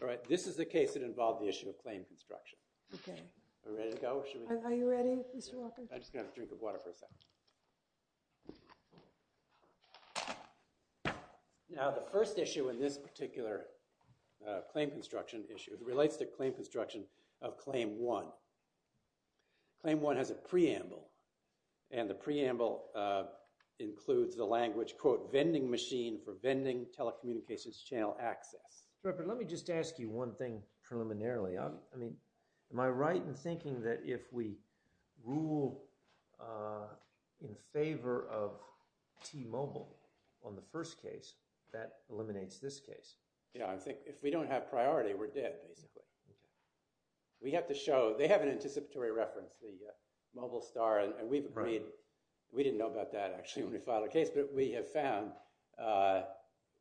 All right, this is a case that involved the issue of claim construction. Now the first issue in this particular claim construction issue relates to claim construction of Claim 1. Claim 1 has a preamble and the preamble includes the language, quote, vending machine for vending telecommunications channel access. But let me just ask you one thing preliminarily. I mean, am I right in thinking that if we rule in favor of T-Mobile on the first case, that eliminates this case? Yeah, I think if we don't have priority, we're dead basically. We have to show, they have an anticipatory reference, the mobile star, and we've agreed, we didn't know about that actually when we filed a case, but we have found,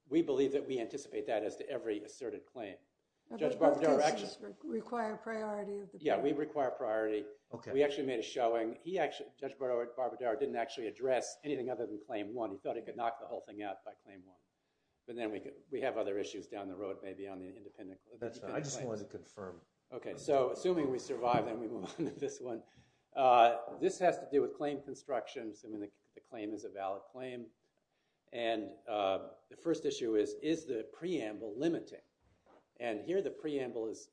we believe that we anticipate that as to every asserted claim. Does this require priority? Yeah, we require priority. Okay, we actually made a showing. He actually, Judge Barbadaro didn't actually address anything other than Claim 1. He thought he could knock the whole thing out by Claim 1. But then we could, we have other issues down the road, maybe on the independent claim. I just wanted to confirm. Okay, so assuming we survive, then we move on to this one. This has to do with claim constructions. I mean, the claim is a valid claim. And the first issue is, is the preamble limiting? And here the preamble is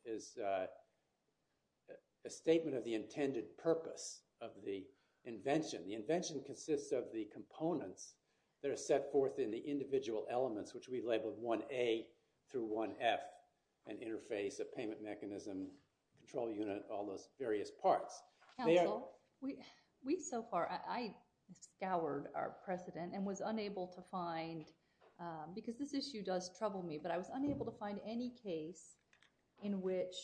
a statement of the intended purpose of the invention. The invention consists of the components that are set forth in the individual elements, which we've labeled 1A through 1F, an interface, a payment mechanism, control unit, all those various parts. Counsel, we so far, I scoured our precedent and was unable to find, because this issue does trouble me, but I was unable to find any case in which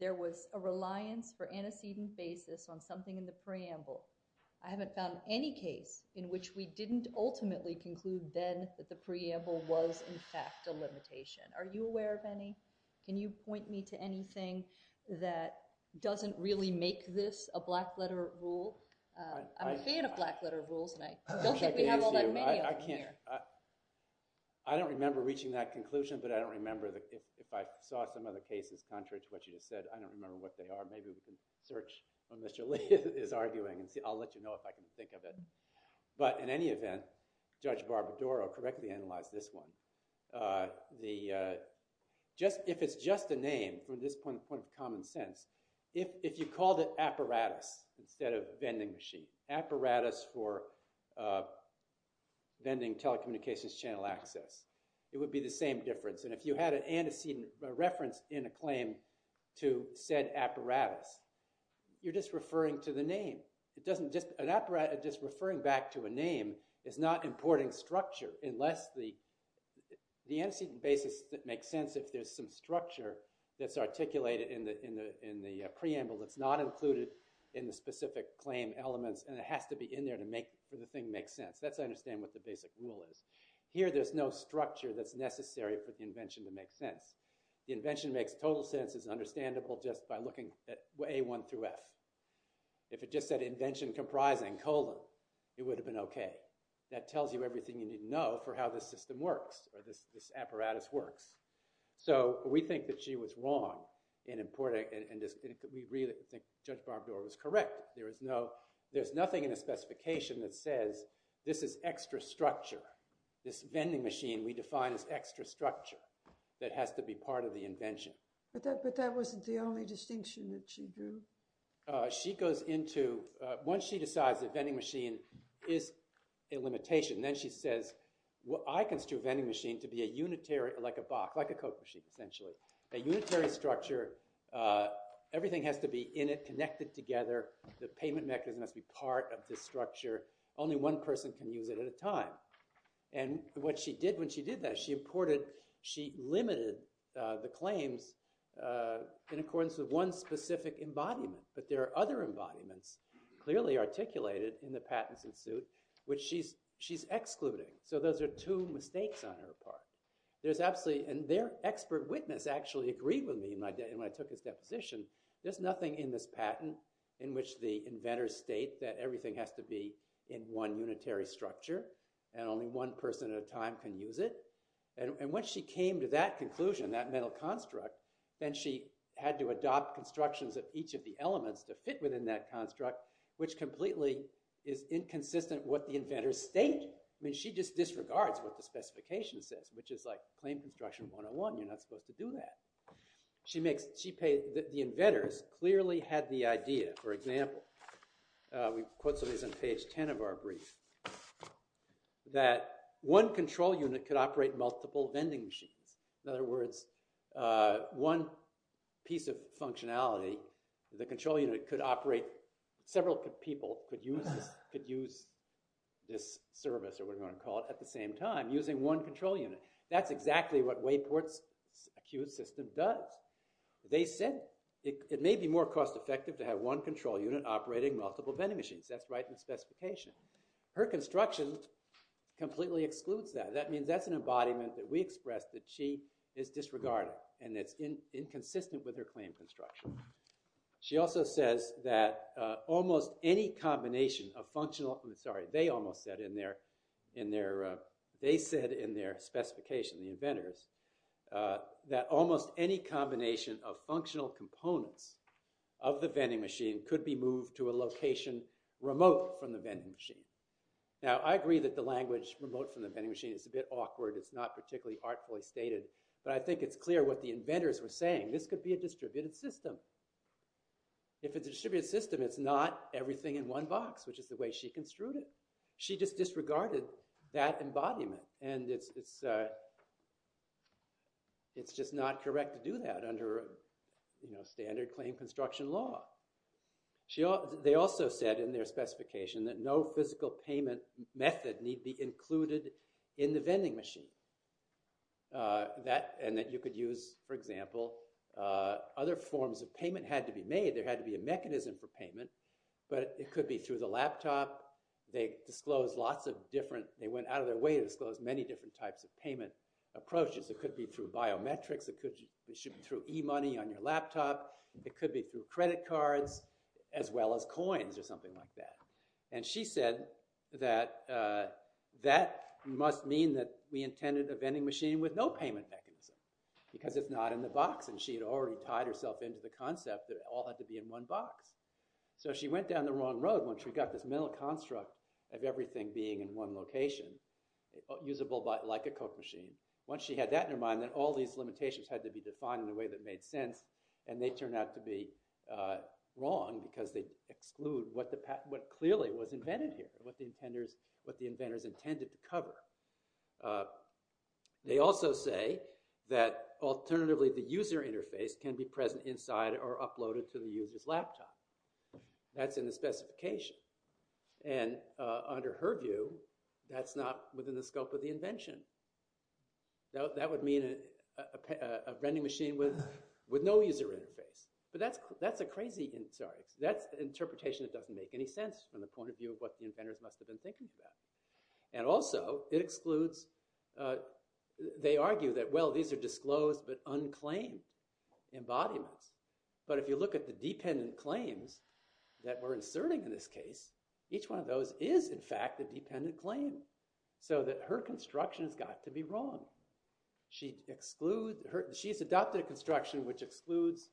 there was a reliance for antecedent basis on something in the preamble. I haven't found any case in which we didn't ultimately conclude then that the preamble was in fact a limitation. Are you aware of any? Can you point me to anything that doesn't really make this a black letter rule? I'm a fan of black letter rules, Mike. I don't think we have all that many of them here. I don't remember reaching that conclusion, but I don't remember, if I saw some other cases contrary to what you just said, I don't remember what they are. Maybe we can search what Mr. Lee is arguing and see. I'll let you know if I can think of it. But in any event, Judge from this point of common sense, if you called it apparatus instead of vending machine, apparatus for vending telecommunications channel access, it would be the same difference. And if you had an antecedent reference in a claim to said apparatus, you're just referring to the name. Just referring back to a name is not importing structure unless the antecedent basis that makes sense, if there's some structure that's articulated in the preamble that's not included in the specific claim elements and it has to be in there to make the thing make sense. That's, I understand, what the basic rule is. Here there's no structure that's necessary for the invention to make sense. The invention makes total sense is understandable just by looking at A1 through F. If it just said invention comprising colon, it would have been okay. That tells you everything you know about how this apparatus works. So we think that she was wrong in importing, and we really think Judge Barbdor was correct. There is no, there's nothing in a specification that says this is extra structure. This vending machine we define as extra structure that has to be part of the invention. But that wasn't the only distinction that she drew. She goes into, once she decides that vending machine is a limitation, then she says, I construe a vending machine to be a unitary, like a box, like a Coke machine essentially, a unitary structure. Everything has to be in it, connected together. The payment mechanism has to be part of this structure. Only one person can use it at a time. And what she did when she did that, she imported, she limited the claims in accordance with one specific embodiment. But there are other embodiments clearly articulated in the patents in suit which she's excluding. So those are two mistakes on her part. There's absolutely, and their expert witness actually agreed with me when I took his deposition. There's nothing in this patent in which the inventors state that everything has to be in one unitary structure, and only one person at a time can use it. And when she came to that conclusion, that mental construct, then she had to adopt constructions of each of the elements to fit within that construct, which completely is inconsistent what the inventors state. I mean, she just disregards what the specification says, which is like claim construction 101, you're not supposed to do that. She makes, she paid, the inventors clearly had the idea, for example, we quote some of these on page 10 of our brief, that one control unit could operate multiple vending machines. In other words, one piece of people could use this service, or whatever you want to call it, at the same time, using one control unit. That's exactly what Wayport's acute system does. They said it may be more cost-effective to have one control unit operating multiple vending machines. That's right in the specification. Her construction completely excludes that. That means that's an embodiment that we expressed that she is disregarding, and it's inconsistent with her claim construction. She also says that almost any combination of functional, I'm sorry, they almost said in their, in their, they said in their specification, the inventors, that almost any combination of functional components of the vending machine could be moved to a location remote from the vending machine. Now, I agree that the language remote from the vending machine is a bit awkward, it's not particularly artfully stated, but I think it's clear what the inventors were saying. This could be a distributed system. If it's a distributed system, it's not everything in one box, which is the way she construed it. She just disregarded that embodiment, and it's, it's, it's just not correct to do that under, you know, standard claim construction law. They also said in their specification that no physical payment method need be included in the vending machine. That, and that you could use, for example, other forms of payment had to be made. There had to be a mechanism for payment, but it could be through the laptop. They disclosed lots of different, they went out of their way to disclose many different types of payment approaches. It could be through biometrics, it could, it should be through e-money on your laptop, it could be through credit cards, as well as coins or something like that. And she said that, that must mean that we intended a vending machine with no payment mechanism, because it's not in the box, and she had already tied herself into the concept that it all had to be in one box. So she went down the wrong road once we got this mental construct of everything being in one location, usable by, like a Coke machine. Once she had that in her mind, then all these limitations had to be defined in a way that made sense, and they turned out to be wrong, because they exclude what the patent, what clearly was invented here, what the intenders, what the inventors intended to cover. They also say that alternatively the user interface can be present inside or uploaded to the user's laptop. That's in the specification, and under her view, that's not within the scope of the invention. Now that would mean a vending machine with, with no user interface, but that's, that's a crazy, sorry, that's the interpretation that doesn't make any sense from the point of view of what the inventors must have been thinking about. And also, it excludes, they argue that, well, these are disclosed but unclaimed embodiments, but if you look at the dependent claims that we're inserting in this case, each one of those is in fact a dependent claim, so that her construction has got to be wrong. She excludes, she's adopted a construction which excludes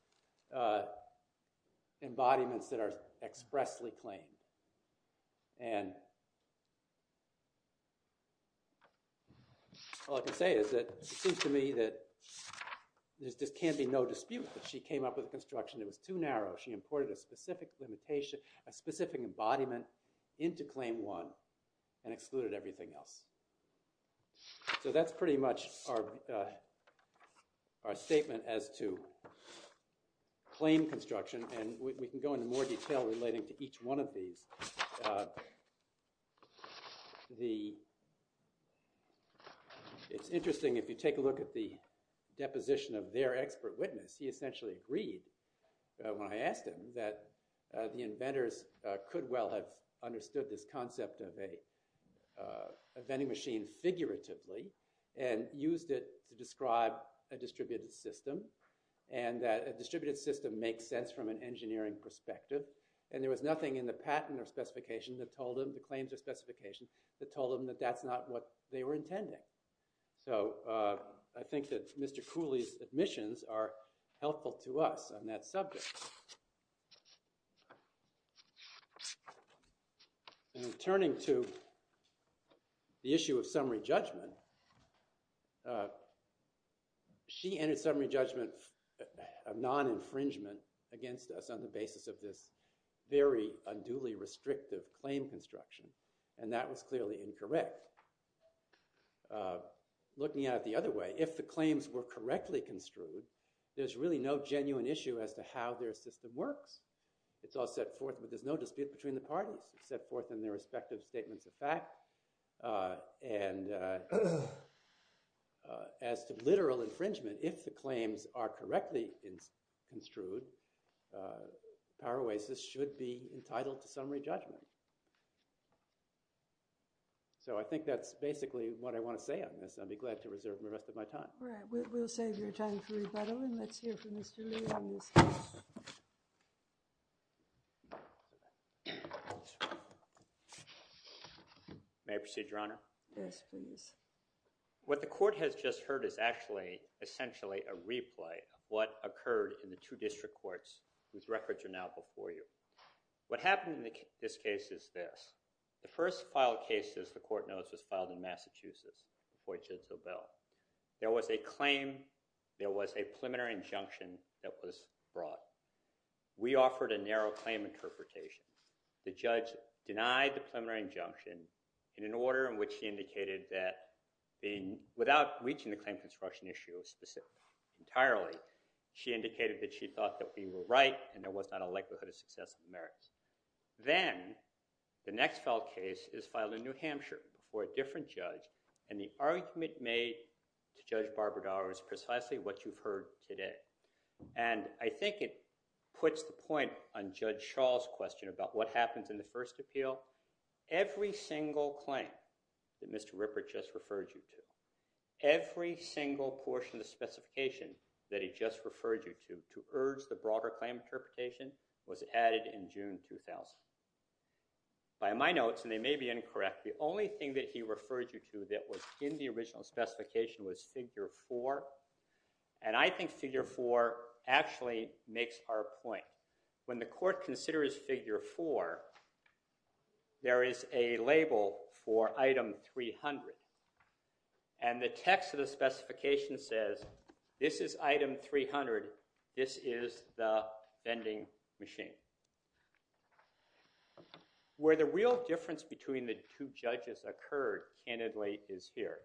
embodiments that are expressly claimed, and all I can say is that it seems to me that there just can't be no dispute that she came up with a construction that was too narrow. She imported a specific limitation, a specific embodiment into Claim 1 and excluded everything else. So that's pretty much our, our statement as to claim construction, and we can go into more detail relating to each one of these. The, it's interesting, if you take a look at the deposition of their expert witness, he essentially agreed when I asked him that the inventors could well have understood this concept of a vending machine figuratively and used it to describe a distributed system, and that a distributed system makes sense from an engineering perspective, and there was nothing in the patent or specification that told him, the claims or specification, that told him that that's not what they were intending. So I think that Mr. Cooley's admissions are helpful to us on that subject. And there was a lot of non-infringement against us on the basis of this very unduly restrictive claim construction, and that was clearly incorrect. Looking at it the other way, if the claims were correctly construed, there's really no genuine issue as to how their system works. It's all set forth, but there's no dispute between the parties. It's set forth in their respective statements of fact, and as to literal infringement, if the claims are correctly construed, Power Oasis should be entitled to summary judgment. So I think that's basically what I want to say on this. I'll be glad to reserve the rest of my time. All right, we'll save your time for rebuttal, and let's hear from Mr. Lee on this case. May I proceed, Your Honor? Yes, please. What the court has just heard is actually, essentially, a replay of what occurred in the two district courts, whose records are now before you. What happened in this case is this. The first filed case, as the court knows, was filed in Massachusetts. There was a claim, there was a preliminary injunction that was brought. We offered a narrow claim interpretation. The judge denied the preliminary injunction in an order in which she indicated that, without reaching the claim construction issue specifically, entirely, she indicated that she thought that we were right, and there was not a likelihood of success in the merits. Then, the next filed case is filed in New Hampshire before a different judge, and the argument made to Judge Barbadaro is precisely what you've heard today. And I think it puts the point on Judge Shaw's question about what happens in the first appeal. Every single claim that Mr. Rippert just referred you to, every single portion of the specification that he just referred you to, to urge the broader claim interpretation, was added in June 2000. By my notes, and they may be incorrect, the only thing that he referred you to that was in the original specification was figure four, and I think figure four actually makes our point. When the court considers figure four, there is a label for item 300, and the text of the specification says, this is the vending machine. Where the real difference between the two judges occurred, candidly, is here.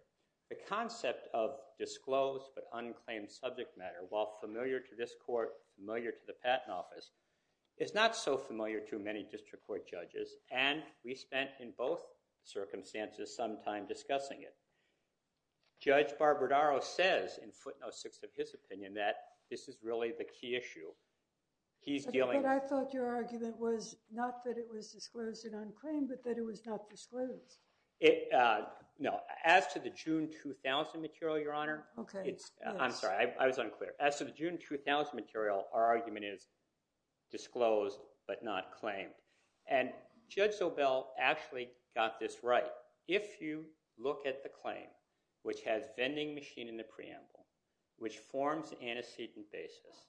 The concept of disclosed but unclaimed subject matter, while familiar to this court, familiar to the patent office, is not so familiar to many district court judges, and we spent, in both circumstances, some time discussing it. Judge Barbadaro says, in footnote six of his opinion, that this is really the key issue. I thought your argument was not that it was disclosed and unclaimed, but that it was not disclosed. No, as to the June 2000 material, Your Honor, I'm sorry, I was unclear. As to the June 2000 material, our argument is disclosed but not claimed, and Judge Zobel actually got this right. If you look at the claim, which has vending machine in the antecedent basis,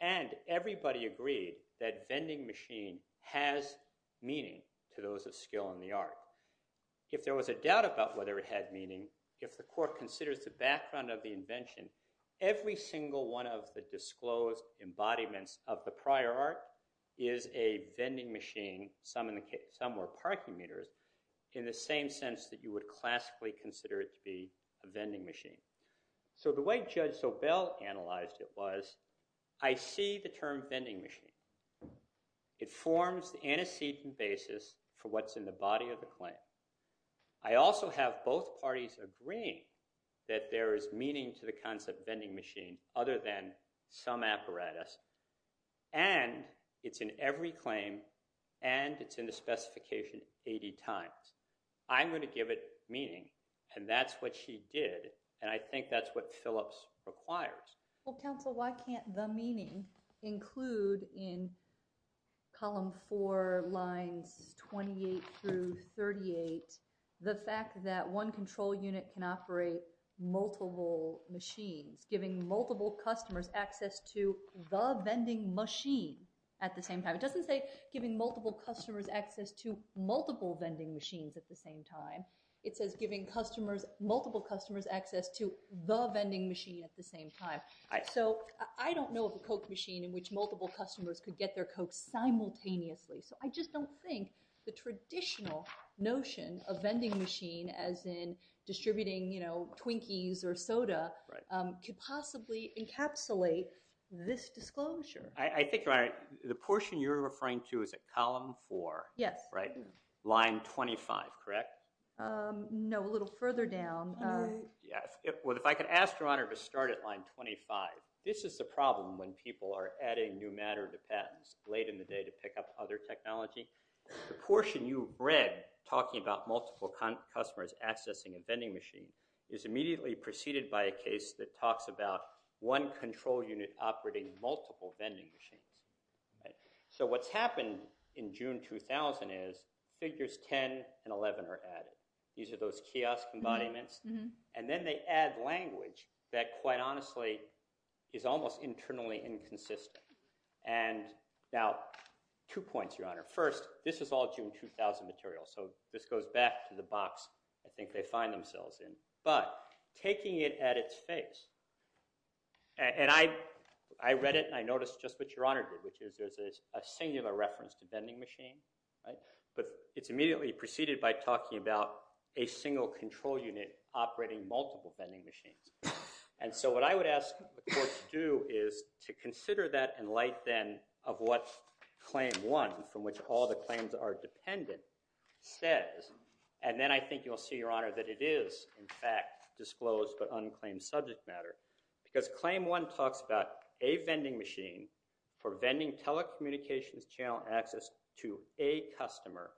and everybody agreed that vending machine has meaning to those of skill in the art. If there was a doubt about whether it had meaning, if the court considers the background of the invention, every single one of the disclosed embodiments of the prior art is a vending machine, some were parking meters, in the same sense that you would classically consider it to be a vending machine. So the way Judge Zobel analyzed it was, I see the term vending machine. It forms the antecedent basis for what's in the body of the claim. I also have both parties agreeing that there is meaning to the concept vending machine other than some apparatus, and it's in every claim, and it's in the specification 80 times. I'm going to give it meaning, and that's what she did, and I think that's what Phillips requires. Well counsel, why can't the meaning include in column 4 lines 28 through 38 the fact that one control unit can operate multiple machines, giving multiple customers access to the vending machine at the same time. It doesn't say giving multiple customers access to multiple vending machines at the same time. It says giving multiple customers access to the vending machine at the same time. So I don't know of a Coke machine in which multiple customers could get their Coke simultaneously, so I just don't think the traditional notion of vending machine, as in distributing, you know, Twinkies or soda, could possibly encapsulate this disclosure. I think the portion you're referring to is a column 4, right? Line 25, correct? No, a little further down. Yes, well if I could ask your honor to start at line 25. This is the problem when people are adding new matter to patents late in the day to pick up other technology. The portion you read talking about multiple customers accessing a vending machine is immediately preceded by a case that talks about one control unit operating multiple vending machines. So what's happened in June 2000 is figures 10 and 11 are added. These are those kiosk embodiments, and then they add language that quite honestly is almost internally inconsistent. And now two points, your honor. First, this is all June 2000 material, so this goes back to the box I was talking about, taking it at its face. And I read it and I noticed just what your honor did, which is there's a singular reference to vending machine, right? But it's immediately preceded by talking about a single control unit operating multiple vending machines. And so what I would ask the court to do is to consider that in light then of what claim 1, from which all the claims are dependent, says. And then I think you'll see, your honor, that it is in fact disclosed but unclaimed subject matter. Because claim 1 talks about a vending machine for vending telecommunications channel access to a customer,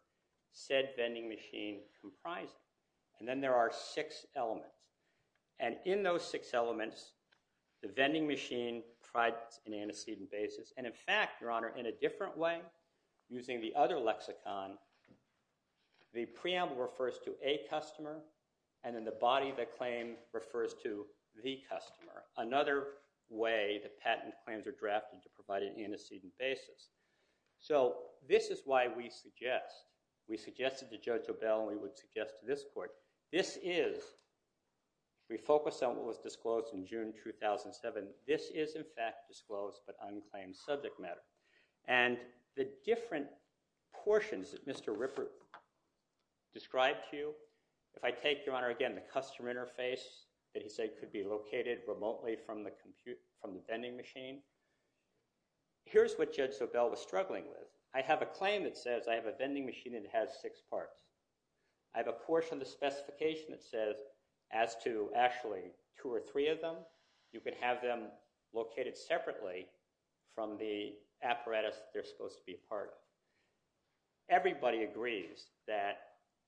said vending machine comprising. And then there are six elements. And in those six elements, the vending machine tried an antecedent basis. And in fact, your honor, in a preamble, refers to a customer. And in the body, the claim refers to the customer. Another way the patent claims are drafted to provide an antecedent basis. So this is why we suggest, we suggested to Judge O'Bell and we would suggest to this court, this is, if we focus on what was disclosed in June 2007, this is in fact disclosed but unclaimed subject matter. And the different portions that Mr. Ripper described to you, if I take, your honor, again the customer interface that he said could be located remotely from the vending machine, here's what Judge O'Bell was struggling with. I have a claim that says I have a vending machine that has six parts. I have a portion of the specification that says as to actually two or three of them, you could have them Everybody agrees that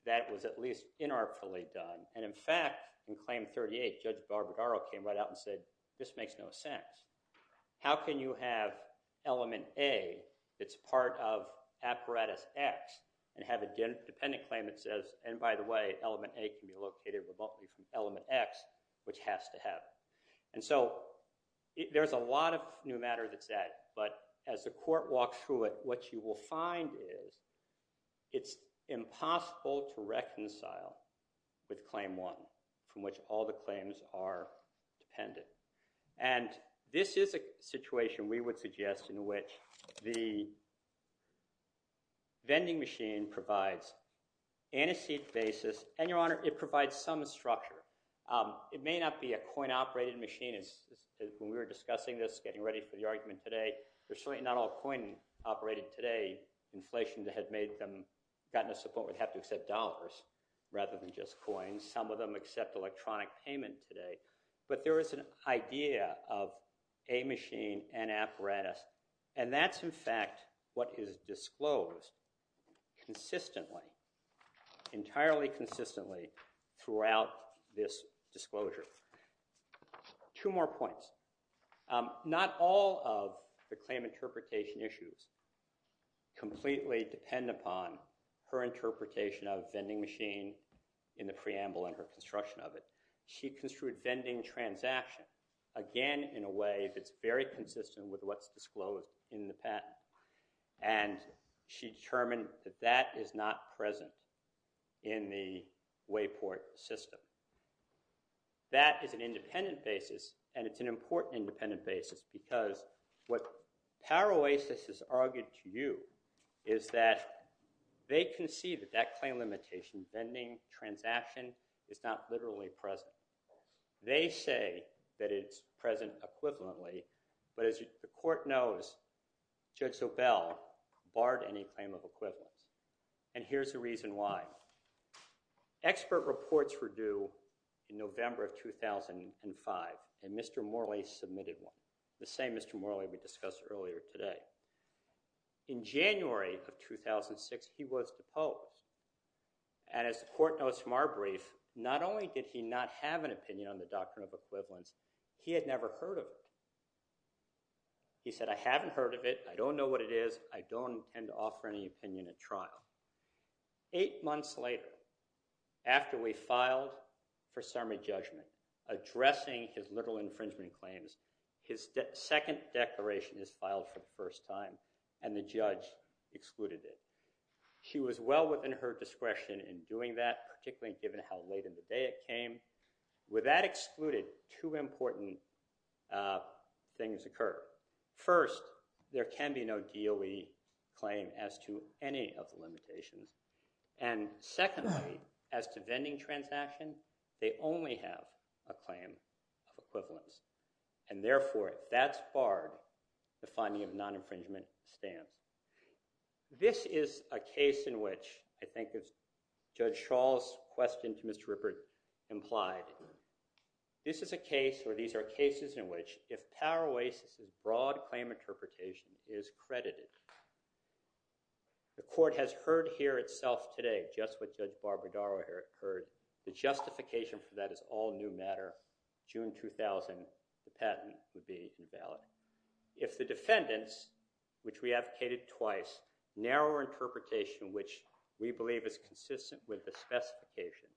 that was at least inartfully done. And in fact, in claim 38, Judge Barbadaro came right out and said, this makes no sense. How can you have element A that's part of apparatus X and have a dependent claim that says, and by the way, element A can be located remotely from element X, which has to happen. And so there's a lot of new matter that's that. But as the court walks through it, what you will find is it's impossible to reconcile with claim one, from which all the claims are dependent. And this is a situation we would suggest in which the vending machine provides antecedent basis, and your honor, it provides some structure. It may not be a coin-operated machine as when we were discussing this, getting ready for the argument today, there's not all coin-operated today. Inflation that had made them gotten a support would have to accept dollars rather than just coins. Some of them accept electronic payment today. But there is an idea of a machine and apparatus, and that's in fact what is disclosed consistently, entirely consistently throughout this disclosure. Two more points. Not all of the claim interpretation issues completely depend upon her interpretation of vending machine in the preamble and her construction of it. She construed vending transaction, again, in a way that's very consistent with what's disclosed in the patent. And she determined that that is not present in the Wayport system. That is an independent basis, and it's an important independent basis, because what Paroasis has argued to you is that they can see that that claim limitation, vending transaction, is not literally present. They say that it's present equivalently, but as the court knows, Judge Zobel barred any claim of equivalence. And here's the reason why. Expert reports were due in November of 2005, and Mr. Morley submitted one, the same Mr. Morley we discussed earlier today. In January of 2006, he was deposed. And as the court knows from our brief, not only did he not have an opinion on the doctrine of equivalence, he had never heard of it. He said, I haven't heard of it. I don't know what it is. I don't intend to offer any opinion at trial. Eight months later, after we filed for summary judgment addressing his literal infringement claims, his second declaration is filed for the first time, and the judge excluded it. She was well within her discretion in doing that, particularly given how late in the day it came. With that excluded, two important things occur. First, there can be no DOE claim as to any of the limitations. And secondly, as to vending transaction, they only have a claim of equivalence. And therefore, if that's barred, the finding of non-infringement stands. This is a case where these are cases in which, if Power Oasis' broad claim interpretation is credited, the court has heard here itself today just what Judge Barbara Darrow heard, the justification for that is all new matter. June 2000, the patent would be invalid. If the defendants, which we advocated twice, narrower interpretation, which we believe is consistent with the specification,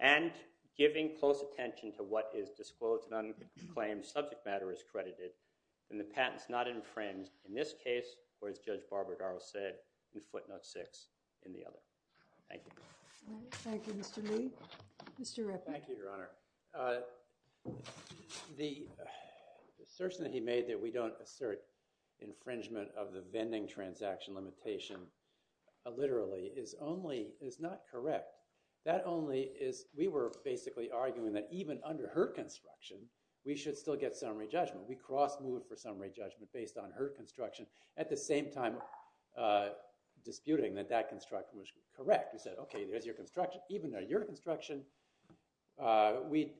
and giving close attention to what is disclosed and unclaimed subject matter is credited, then the patent's not infringed in this case, or as Judge Barbara Darrow said in footnote six in the other. Thank you. Thank you, Mr. Lee. Mr. Rippey. Thank you, Your Honor. The assertion that he made that we don't assert infringement of the vending transaction limitation, literally, is not correct. We were basically arguing that even under her construction, we should still get summary judgment. We cross-moved for summary judgment based on her construction, at the same time disputing that that construction was correct. We said, okay, there's your construction. Even though your construction, we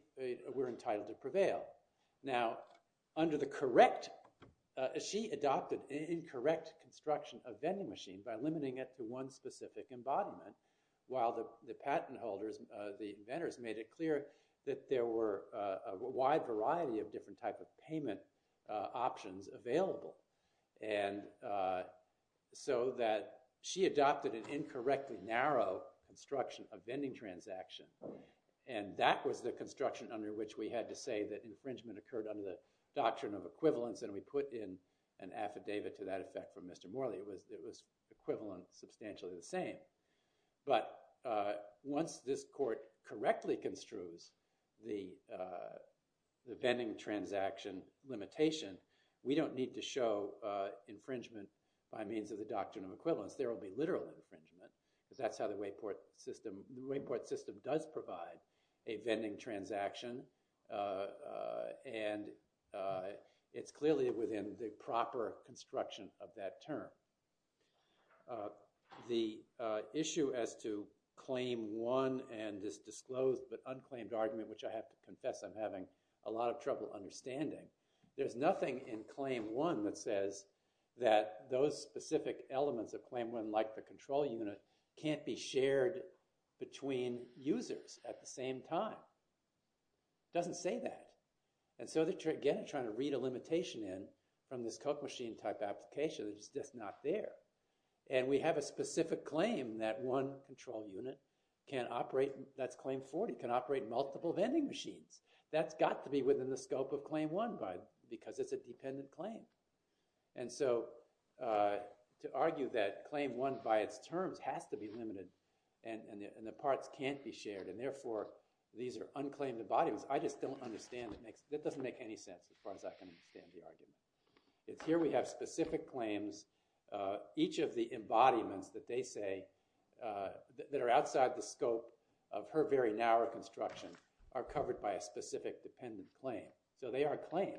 were entitled to prevail. Now, under the correct, as she adopted incorrect construction of vending machine by limiting it to one specific embodiment, while the patent holders, the inventors, made it clear that there were a wide variety of different type of payment options available. And so that she adopted an incorrectly narrow construction of vending transaction, and that was the construction under which we had to say that infringement occurred under the doctrine of equivalence. And we put in an affidavit to that effect from Mr. Morley. It was equivalent, substantially the same. But once this court correctly construes the vending transaction limitation, we don't need to show infringement by means of the doctrine of equivalence. There will be literal infringement, because that's how the wayport system, the wayport system does provide a vending transaction, and it's clearly within the proper construction of that term. The issue as to claim one and this disclosed but unclaimed argument, which I have to confess I'm having a lot of trouble understanding, there's nothing in claim one that says that those specific elements of claim one, like the control unit, can't be shared between users at the same time. It doesn't say that. And so they're again trying to read a limitation in from this Coke machine type application that's just not there. And we have a specific claim that one control unit can operate, that's claim 40, can operate multiple vending machines. That's got to be within the scope of claim one because it's a dependent claim. And so to argue that claim one by its terms has to be limited and the parts can't be shared and therefore these are unclaimed embodiments, I just don't understand. That doesn't make any sense as far as I can understand the argument. It's here we have specific claims, each of the embodiments that they say that are outside the scope of her very narrow construction are covered by a specific dependent claim. So they are claimed.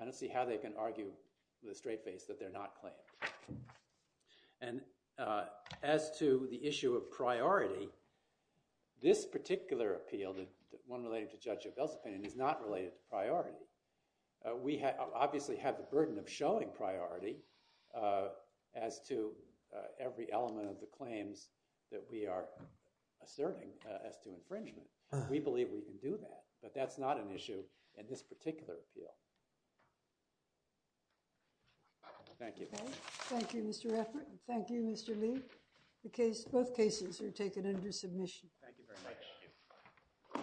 I don't see how they can argue with a straight face that they're not claimed. And as to the issue of priority, this particular appeal, the one related to Judge Jovell's opinion, is not related to priority. We obviously have the burden of showing priority as to every element of the claims that we are asserting as to infringement. We believe we can do that, but that's not an issue in this particular appeal. Thank you. Thank you, Mr. Effort. Thank you, Mr. Lee. Both cases are taken under submission.